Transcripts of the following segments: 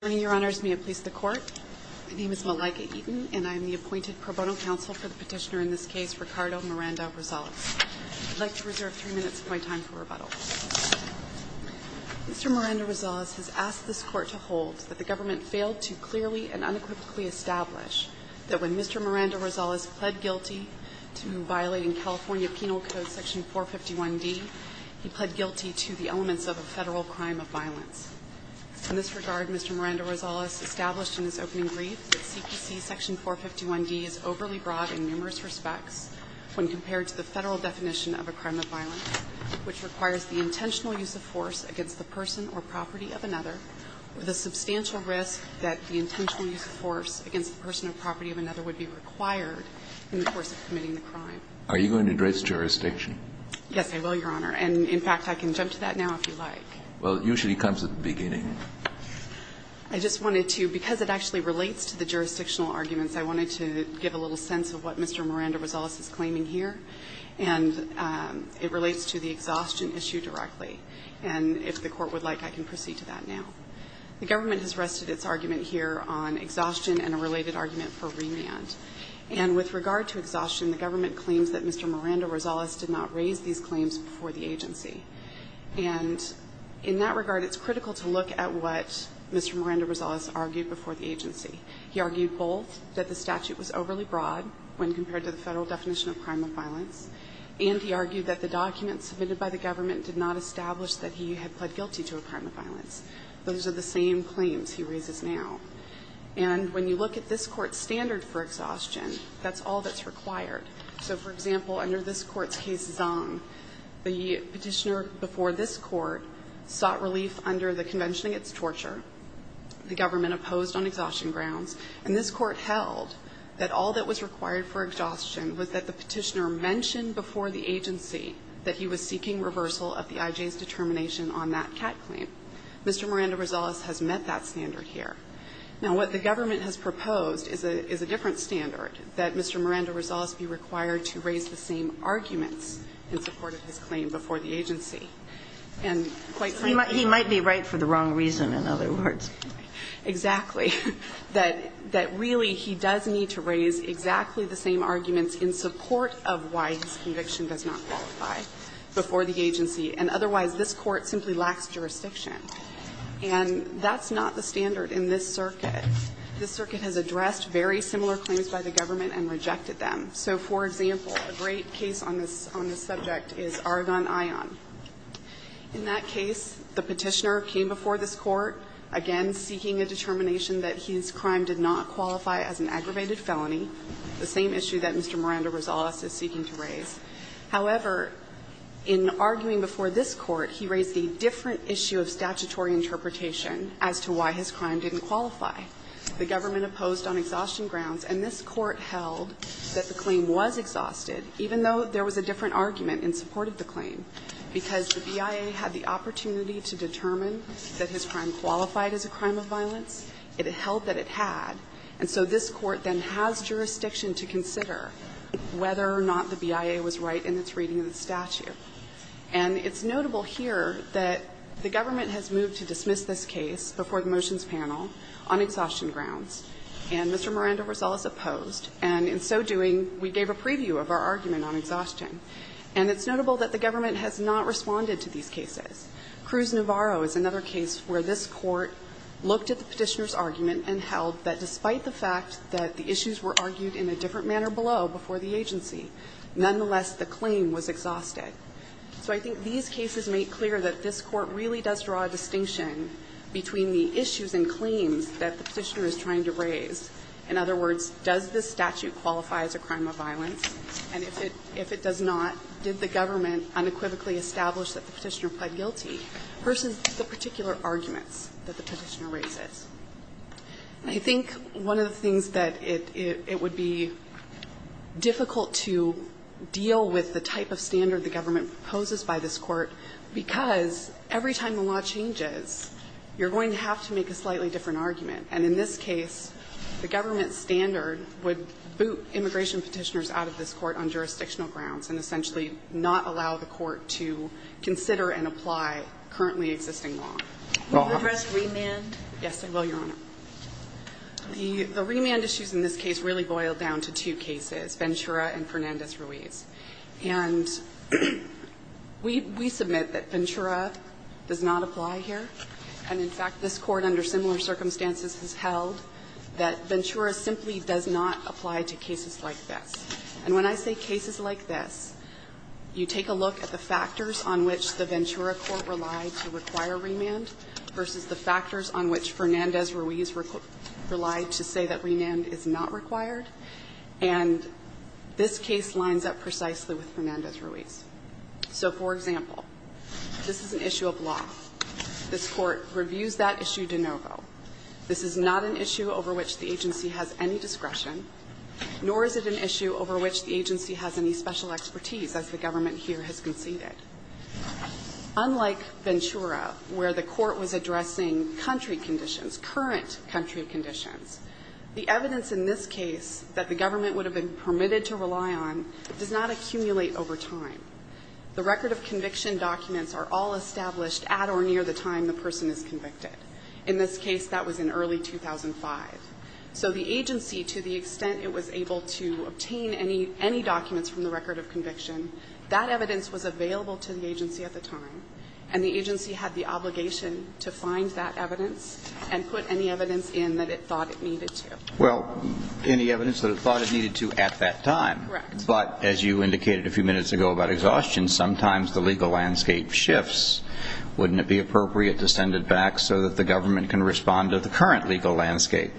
Good morning, Your Honors, may it please the Court. My name is Malaika Eaton and I am the appointed pro bono counsel for the petitioner in this case, Ricardo Miranda-Rosales. I'd like to reserve three minutes of my time for rebuttal. Mr. Miranda-Rosales has asked this Court to hold that the government failed to clearly and unequivocally establish that when Mr. Miranda-Rosales pled guilty to violating California Penal Code Section 451D, he pled guilty to the elements of a Federal crime of violence. In this regard, Mr. Miranda-Rosales established in his opening brief that CPC Section 451D is overly broad in numerous respects when compared to the Federal definition of a crime of violence, which requires the intentional use of force against the person or property of another, with a substantial risk that the intentional use of force against the person or property of another would be required in the course of committing the crime. Are you going to address jurisdiction? Yes, I will, Your Honor. And, in fact, I can jump to that now if you like. Well, it usually comes at the beginning. I just wanted to, because it actually relates to the jurisdictional arguments, I wanted to give a little sense of what Mr. Miranda-Rosales is claiming here. And it relates to the exhaustion issue directly. And if the Court would like, I can proceed to that now. The government has rested its argument here on exhaustion and a related argument for remand. And with regard to exhaustion, the government claims that Mr. Miranda-Rosales did not raise these claims before the agency. And in that regard, it's critical to look at what Mr. Miranda-Rosales argued before the agency. He argued both that the statute was overly broad when compared to the Federal definition of crime of violence, and he argued that the documents submitted by the government did not establish that he had pled guilty to a crime of violence. Those are the same claims he raises now. And when you look at this Court's standard for exhaustion, that's all that's required. So, for example, under this Court's case, Zong, the Petitioner before this Court sought relief under the convention against torture. The government opposed on exhaustion grounds. And this Court held that all that was required for exhaustion was that the Petitioner mentioned before the agency that he was seeking reversal of the IJ's determination on that CAT claim. Mr. Miranda-Rosales has met that standard here. Now, what the government has proposed is a different standard, that Mr. Miranda-Rosales be required to raise the same arguments in support of his claim before the agency. And quite frankly he might be right for the wrong reason, in other words. Exactly. That really he does need to raise exactly the same arguments in support of why his conviction does not qualify before the agency. And otherwise, this Court simply lacks jurisdiction. And that's not the standard in this circuit. This circuit has addressed very similar claims by the government and rejected them. So, for example, a great case on this subject is Argonne-Ion. In that case, the Petitioner came before this Court, again seeking a determination that his crime did not qualify as an aggravated felony, the same issue that Mr. Miranda-Rosales is seeking to raise. However, in arguing before this Court, he raised a different issue of statutory interpretation as to why his crime didn't qualify. The government opposed on exhaustion grounds, and this Court held that the claim was exhausted, even though there was a different argument in support of the claim, because the BIA had the opportunity to determine that his crime qualified as a crime of violence. It held that it had. And so this Court then has jurisdiction to consider whether or not the BIA was right in its reading of the statute. And it's notable here that the government has moved to dismiss this case before the motions panel on exhaustion grounds, and Mr. Miranda-Rosales opposed, and in so doing, we gave a preview of our argument on exhaustion. And it's notable that the government has not responded to these cases. Cruz-Navarro is another case where this Court looked at the Petitioner's argument and held that despite the fact that the issues were argued in a different manner below before the agency, nonetheless, the claim was exhausted. So I think these cases make clear that this Court really does draw a distinction between the issues and claims that the Petitioner is trying to raise. In other words, does this statute qualify as a crime of violence? And if it does not, did the government unequivocally establish that the Petitioner pled guilty versus the particular arguments that the Petitioner raises? I think one of the things that it would be difficult to deal with the type of standard the government proposes by this Court, because every time a law changes, you're going to have to make a slightly different argument. And in this case, the government standard would boot immigration Petitioners out of this Court on jurisdictional grounds and essentially not allow the Court to consider and apply currently existing law. Will you address remand? Yes, I will, Your Honor. The remand issues in this case really boil down to two cases, Ventura and Fernandez-Ruiz. And we submit that Ventura does not apply here. And in fact, this Court under similar circumstances has held that Ventura simply does not apply to cases like this. And when I say cases like this, you take a look at the factors on which the Ventura Court relied to require remand versus the factors on which Fernandez-Ruiz relied to say that remand is not required. And this case lines up precisely with Fernandez-Ruiz. So for example, this is an issue of law. This Court reviews that issue de novo. This is not an issue over which the agency has any discretion, nor is it an issue over which the agency has any special expertise, as the government here has conceded. Unlike Ventura, where the Court was addressing country conditions, current country conditions, the evidence in this case that the government would have been permitted to rely on does not accumulate over time. The record of conviction documents are all established at or near the time the person is convicted. In this case, that was in early 2005. So the agency, to the extent it was able to obtain any documents from the record of conviction, that evidence was available to the agency at the time. And the agency had the obligation to find that evidence and put any evidence in that it thought it needed to. Well, any evidence that it thought it needed to at that time. Correct. But as you indicated a few minutes ago about exhaustion, sometimes the legal landscape shifts. Wouldn't it be appropriate to send it back so that the government can respond to the current legal landscape?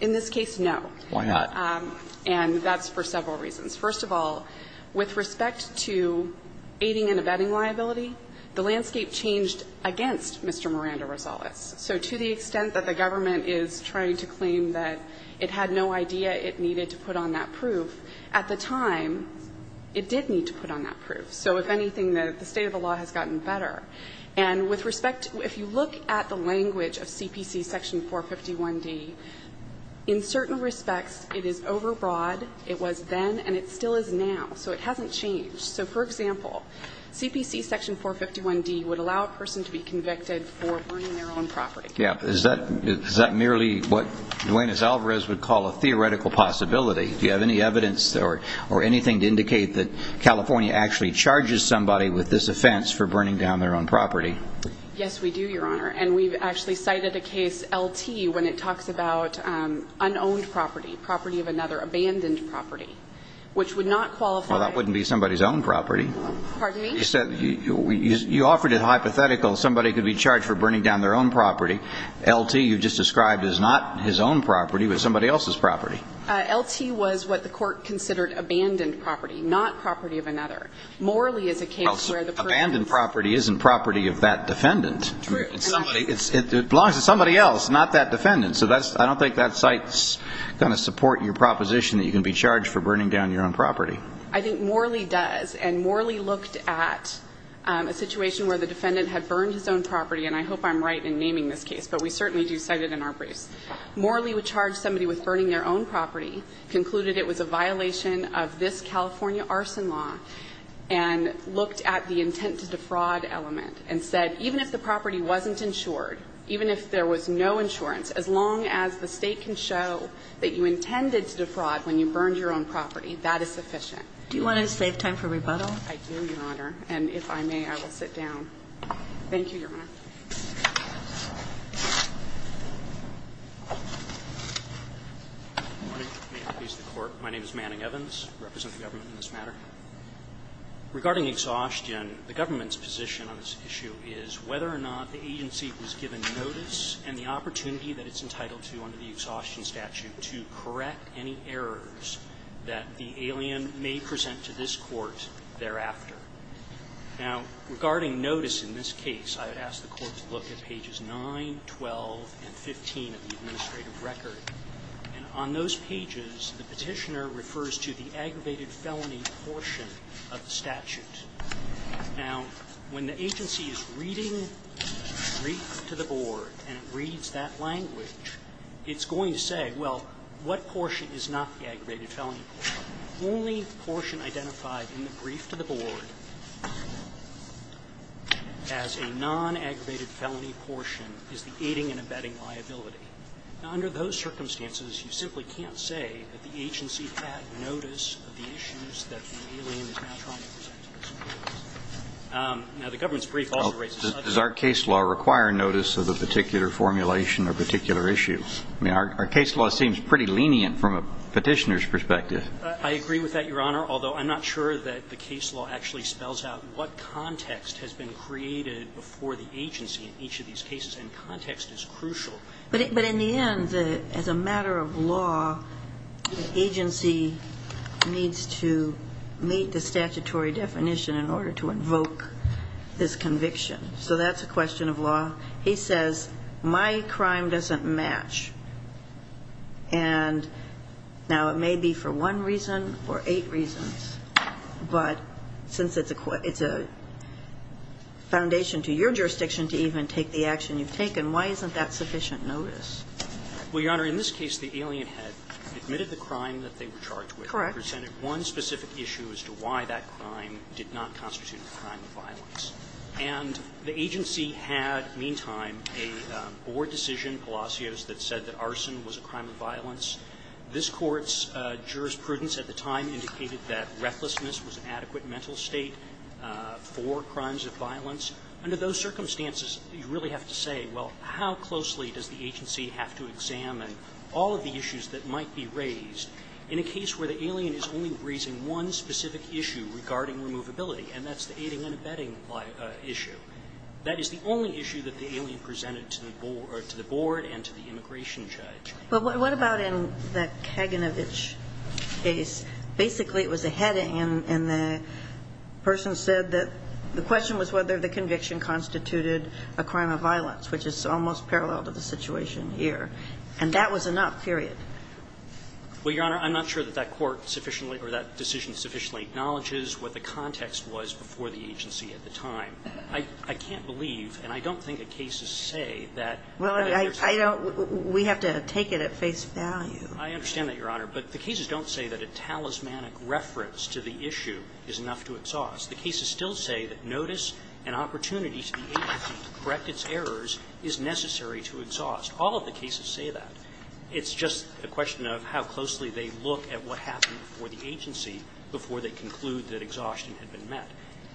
In this case, no. Why not? And that's for several reasons. First of all, with respect to aiding and abetting liability, the landscape changed against Mr. Miranda Rosales. So to the extent that the government is trying to claim that it had no idea it needed to put on that proof, at the time, it did need to put on that proof. So if anything, the state of the law has gotten better. And with respect to the law, if you look at the language of CPC Section 451d, in certain respects, it is overbroad. It was then, and it still is now. So it hasn't changed. So, for example, CPC Section 451d would allow a person to be convicted for burning their own property. Yeah, but is that merely what Duane Azalvarez would call a theoretical possibility? Do you have any evidence or anything to indicate that California actually charges somebody with this offense for burning down their own property? Yes, we do, Your Honor. And we've actually cited a case, LT, when it talks about unowned property, property of another, abandoned property, which would not qualify. Well, that wouldn't be somebody's own property. Pardon me? You said you offered it hypothetical. Somebody could be charged for burning down their own property. LT, you just described as not his own property, but somebody else's property. LT was what the Court considered abandoned property, not property of another. Morally, as a case, where the person is. Abandoned property isn't property of that defendant. True. It belongs to somebody else, not that defendant. So I don't think that cites kind of support in your proposition that you can be charged for burning down your own property. I think morally does. And morally looked at a situation where the defendant had burned his own property. And I hope I'm right in naming this case, but we certainly do cite it in our briefs. Morally would charge somebody with burning their own property, concluded it was a violation of this California arson law, and looked at the intent to defraud element and said, even if the property wasn't insured, even if there was no insurance, as long as the State can show that you intended to defraud when you burned your own property, that is sufficient. Do you want to save time for rebuttal? I do, Your Honor. And if I may, I will sit down. Thank you, Your Honor. Good morning. May it please the Court. My name is Manning Evans. I represent the government in this matter. Regarding exhaustion, the government's position on this issue is whether or not the agency was given notice and the opportunity that it's entitled to under the exhaustion statute to correct any errors that the alien may present to this Court thereafter. Now, regarding notice in this case, I would ask the Court to look at pages 9, 12, and 15 of the administrative record. And on those pages, the petitioner refers to the aggravated felony portion of the statute. Now, when the agency is reading the brief to the Board and it reads that language, it's going to say, well, what portion is not the aggravated felony portion? Only portion identified in the brief to the Board as a non-aggravated felony portion is the aiding and abetting liability. Now, under those circumstances, you simply can't say that the agency had notice of the issues that the alien is now trying to present to this Court. Now, the government's brief also writes a subsection. Well, does our case law require notice of a particular formulation or particular issue? I mean, our case law seems pretty lenient from a petitioner's perspective. I agree with that, Your Honor, although I'm not sure that the case law actually spells out what context has been created before the agency in each of these cases. And context is crucial. But in the end, as a matter of law, the agency needs to meet the statutory definition in order to invoke this conviction. So that's a question of law. He says, my crime doesn't match. And now, it may be for one reason or eight reasons. But since it's a foundation to your jurisdiction to even take the action you've taken, why isn't that sufficient notice? Well, Your Honor, in this case, the alien had admitted the crime that they were charged with. Correct. It presented one specific issue as to why that crime did not constitute a crime of violence. And the agency had, meantime, a board decision, Palacios, that said that arson was a crime of violence. This Court's jurisprudence at the time indicated that recklessness was an adequate mental state for crimes of violence. Under those circumstances, you really have to say, well, how closely does the agency have to examine all of the issues that might be raised in a case where the alien is only raising one specific issue regarding removability? And that's the aiding and abetting issue. That is the only issue that the alien presented to the board and to the immigration judge. But what about in the Kaganovich case? Basically, it was a heading, and the person said that the question was whether the conviction constituted a crime of violence, which is almost parallel to the situation here. And that was enough, period. Well, Your Honor, I'm not sure that that court sufficiently or that decision sufficiently acknowledges what the context was before the agency at the time. I can't believe, and I don't think the cases say that there's a need for that. Well, I don't – we have to take it at face value. I understand that, Your Honor. But the cases don't say that a talismanic reference to the issue is enough to exhaust. The cases still say that notice and opportunity to the agency to correct its errors is necessary to exhaust. All of the cases say that. It's just a question of how closely they look at what happened before the agency before they conclude that exhaustion had been met.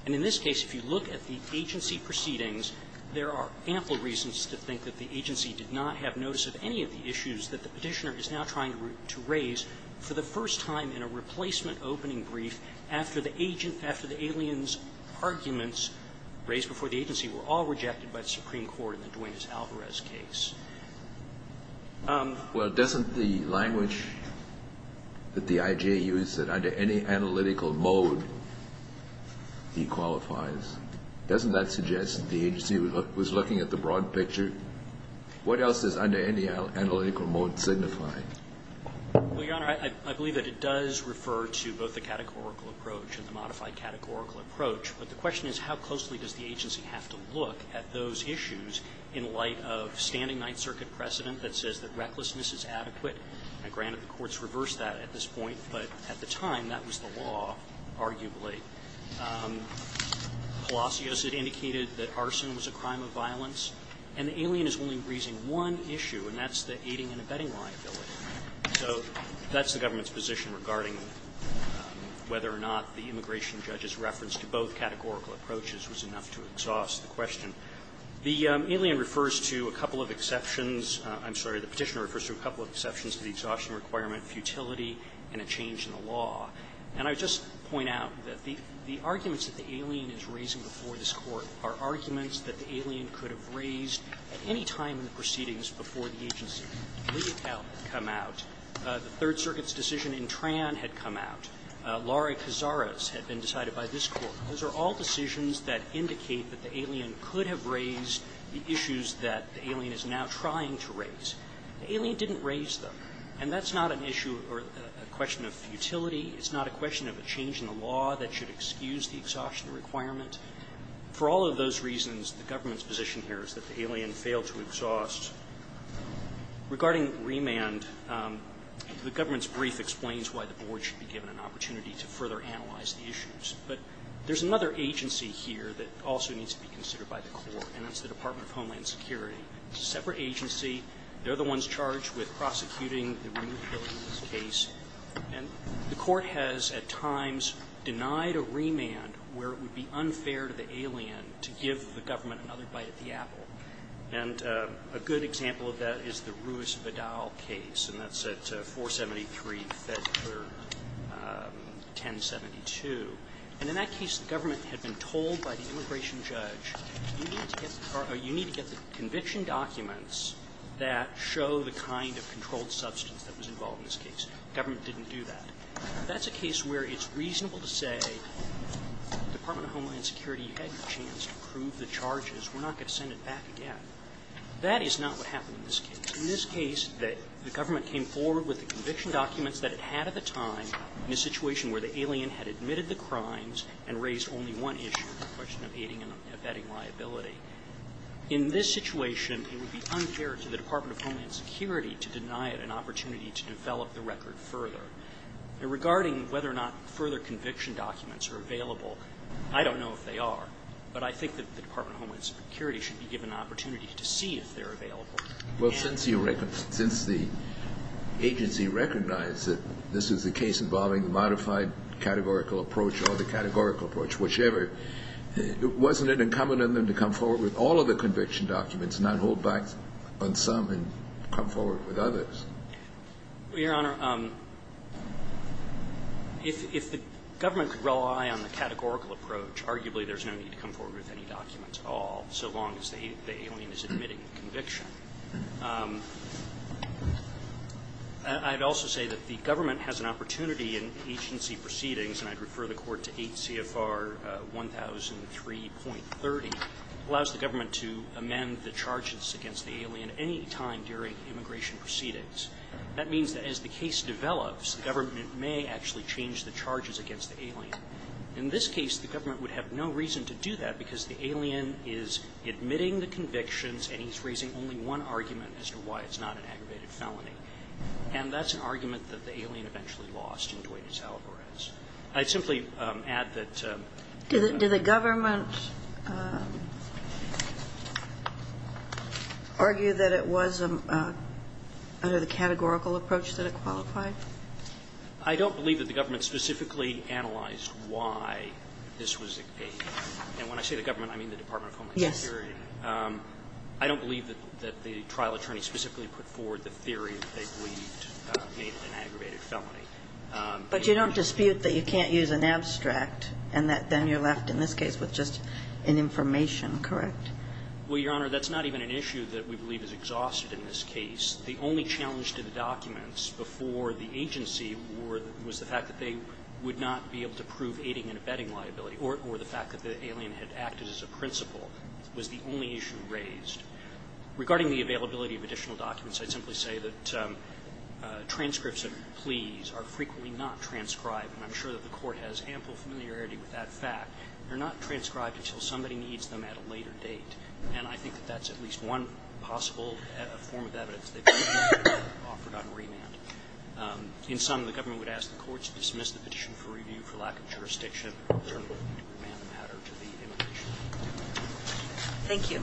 And in this case, if you look at the agency proceedings, there are ample reasons to think that the agency did not have notice of any of the issues that the Petitioner is now trying to raise for the first time in a replacement opening brief after the agent – after the aliens' arguments raised before the agency were all rejected by the Supreme Court in the Duanez-Alvarez case. Well, doesn't the language that the IJU said, under any analytical mode, he qualifies? Doesn't that suggest that the agency was looking at the broad picture? What else does under any analytical mode signify? Well, Your Honor, I believe that it does refer to both the categorical approach and the modified categorical approach. But the question is, how closely does the agency have to look at those issues in light of standing Ninth Circuit precedent that says that recklessness is adequate? Now, granted, the courts reversed that at this point, but at the time, that was the law, arguably. Palacios had indicated that arson was a crime of violence. And the alien is only raising one issue, and that's the aiding and abetting liability. So that's the government's position regarding whether or not the immigration judge's reference to both categorical approaches was enough to exhaust the question. The alien refers to a couple of exceptions – I'm sorry, the Petitioner refers to a couple of exceptions to the exhaustion requirement, futility, and a change in the law. And I would just point out that the arguments that the alien is raising before this Court are arguments that the alien could have raised at any time in the proceedings before the agency's plea account had come out. The Third Circuit's decision in Tran had come out. Laurie Kizara's had been decided by this Court. Those are all decisions that indicate that the alien could have raised the issues that the alien is now trying to raise. The alien didn't raise them. And that's not an issue or a question of futility. It's not a question of a change in the law that should excuse the exhaustion requirement. For all of those reasons, the government's position here is that the alien failed to exhaust. Regarding remand, the government's brief explains why the Board should be given an opportunity to further analyze the issues. But there's another agency here that also needs to be considered by the Court, and that's the Department of Homeland Security. It's a separate agency. They're the ones charged with prosecuting the removability of this case. And the Court has at times denied a remand where it would be unfair to the alien to give the government another bite of the apple. And a good example of that is the Ruiz-Vidal case, and that's at 473 Fedler 1072. And in that case, the government had been told by the immigration judge, you need to get the conviction documents that show the kind of controlled substance that was involved in this case. The government didn't do that. That's a case where it's reasonable to say, Department of Homeland Security, you had your chance to prove the charges. We're not going to send it back again. That is not what happened in this case. In this case, the government came forward with the conviction documents that it had at the time in a situation where the alien had admitted the crimes and raised only one issue, the question of aiding and abetting liability. In this situation, it would be unfair to the Department of Homeland Security to deny it an opportunity to develop the record further. And regarding whether or not further conviction documents are available, I don't know if they are. But I think that the Department of Homeland Security should be given an opportunity to see if they're available. Kennedy. Well, since you recognize the agency recognized that this is a case involving the modified categorical approach or the categorical approach, whichever, wasn't it incumbent on them to come forward with all of the conviction documents and not hold back on some and come forward with others? Your Honor, if the government could rely on the categorical approach, arguably there's no need to come forward with any documents at all, so long as the alien is admitting the conviction. I'd also say that the government has an opportunity in agency proceedings, and I'd refer the Court to 8 CFR 1003.30, allows the government to amend the charges against the alien any time during immigration proceedings. That means that as the case develops, the government may actually change the charges against the alien. In this case, the government would have no reason to do that, because the alien is admitting the convictions and he's raising only one argument as to why it's not an aggravated felony. And that's an argument that the alien eventually lost in Duane E. Alvarez. I'd simply add that the government argued that it was under the categorical approach that it qualified. I don't believe that the government specifically analyzed why this was a case. And when I say the government, I mean the Department of Homeland Security. I don't believe that the trial attorney specifically put forward the theory that they believed made it an aggravated felony. But you don't dispute that you can't use an abstract, and that then you're left in this case with just an information, correct? Well, Your Honor, that's not even an issue that we believe is exhausted in this case. The only challenge to the documents before the agency was the fact that they would not be able to prove aiding and abetting liability, or the fact that the alien had acted as a principal was the only issue raised. Regarding the availability of additional documents, I'd simply say that transcripts of pleas are frequently not transcribed. And I'm sure that the Court has ample familiarity with that fact. They're not transcribed until somebody needs them at a later date. And I think that that's at least one possible form of evidence that could be offered on remand. In sum, the government would ask the courts to dismiss the petition for review for lack of jurisdiction, and turn it over to the remand matter to the immigration attorney. Thank you.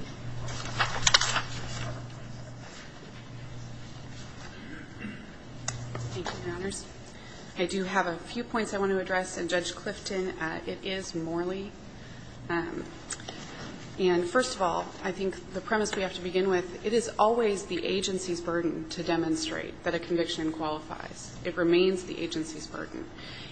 Thank you, Your Honors. I do have a few points I want to address. And Judge Clifton, it is morally. And first of all, I think the premise we have to begin with, it is always the agency's burden to demonstrate that a conviction qualifies. It remains the agency's burden.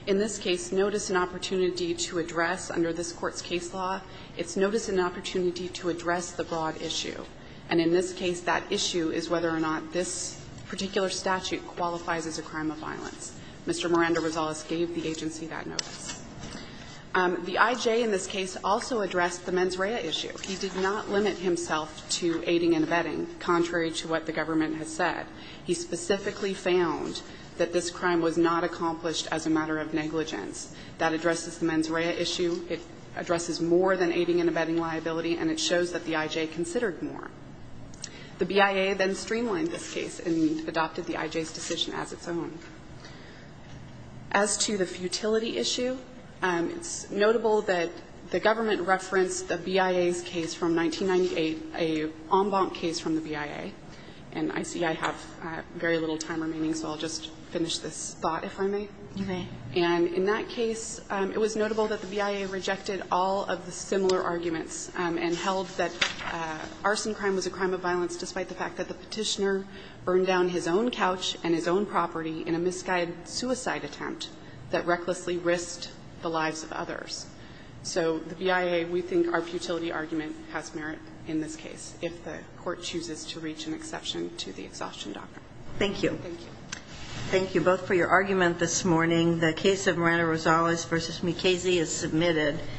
In this case, notice and opportunity to address under this Court's case law, it's notice and opportunity to address the broad issue. And in this case, that issue is whether or not this particular statute qualifies as a crime of violence. Mr. Miranda-Rosales gave the agency that notice. The I.J. in this case also addressed the mens rea issue. He did not limit himself to aiding and abetting, contrary to what the government has said. He specifically found that this crime was not accomplished as a matter of negligence. That addresses the mens rea issue. It addresses more than aiding and abetting liability, and it shows that the I.J. considered more. The BIA then streamlined this case and adopted the I.J.'s decision as its own. As to the futility issue, it's notable that the government referenced the BIA's case from 1998, a en banc case from the BIA. And I see I have very little time remaining, so I'll just finish this thought, if I may. And in that case, it was notable that the BIA rejected all of the similar arguments and held that arson crime was a crime of violence, despite the fact that the Petitioner burned down his own couch and his own property in a misguided suicide attempt that recklessly risked the lives of others. So the BIA, we think our futility argument has merit in this case, if the court chooses to reach an exception to the exhaustion doctrine. Thank you. Thank you. Thank you both for your argument this morning. The case of Miranda-Rosales v. McKaysey is submitted.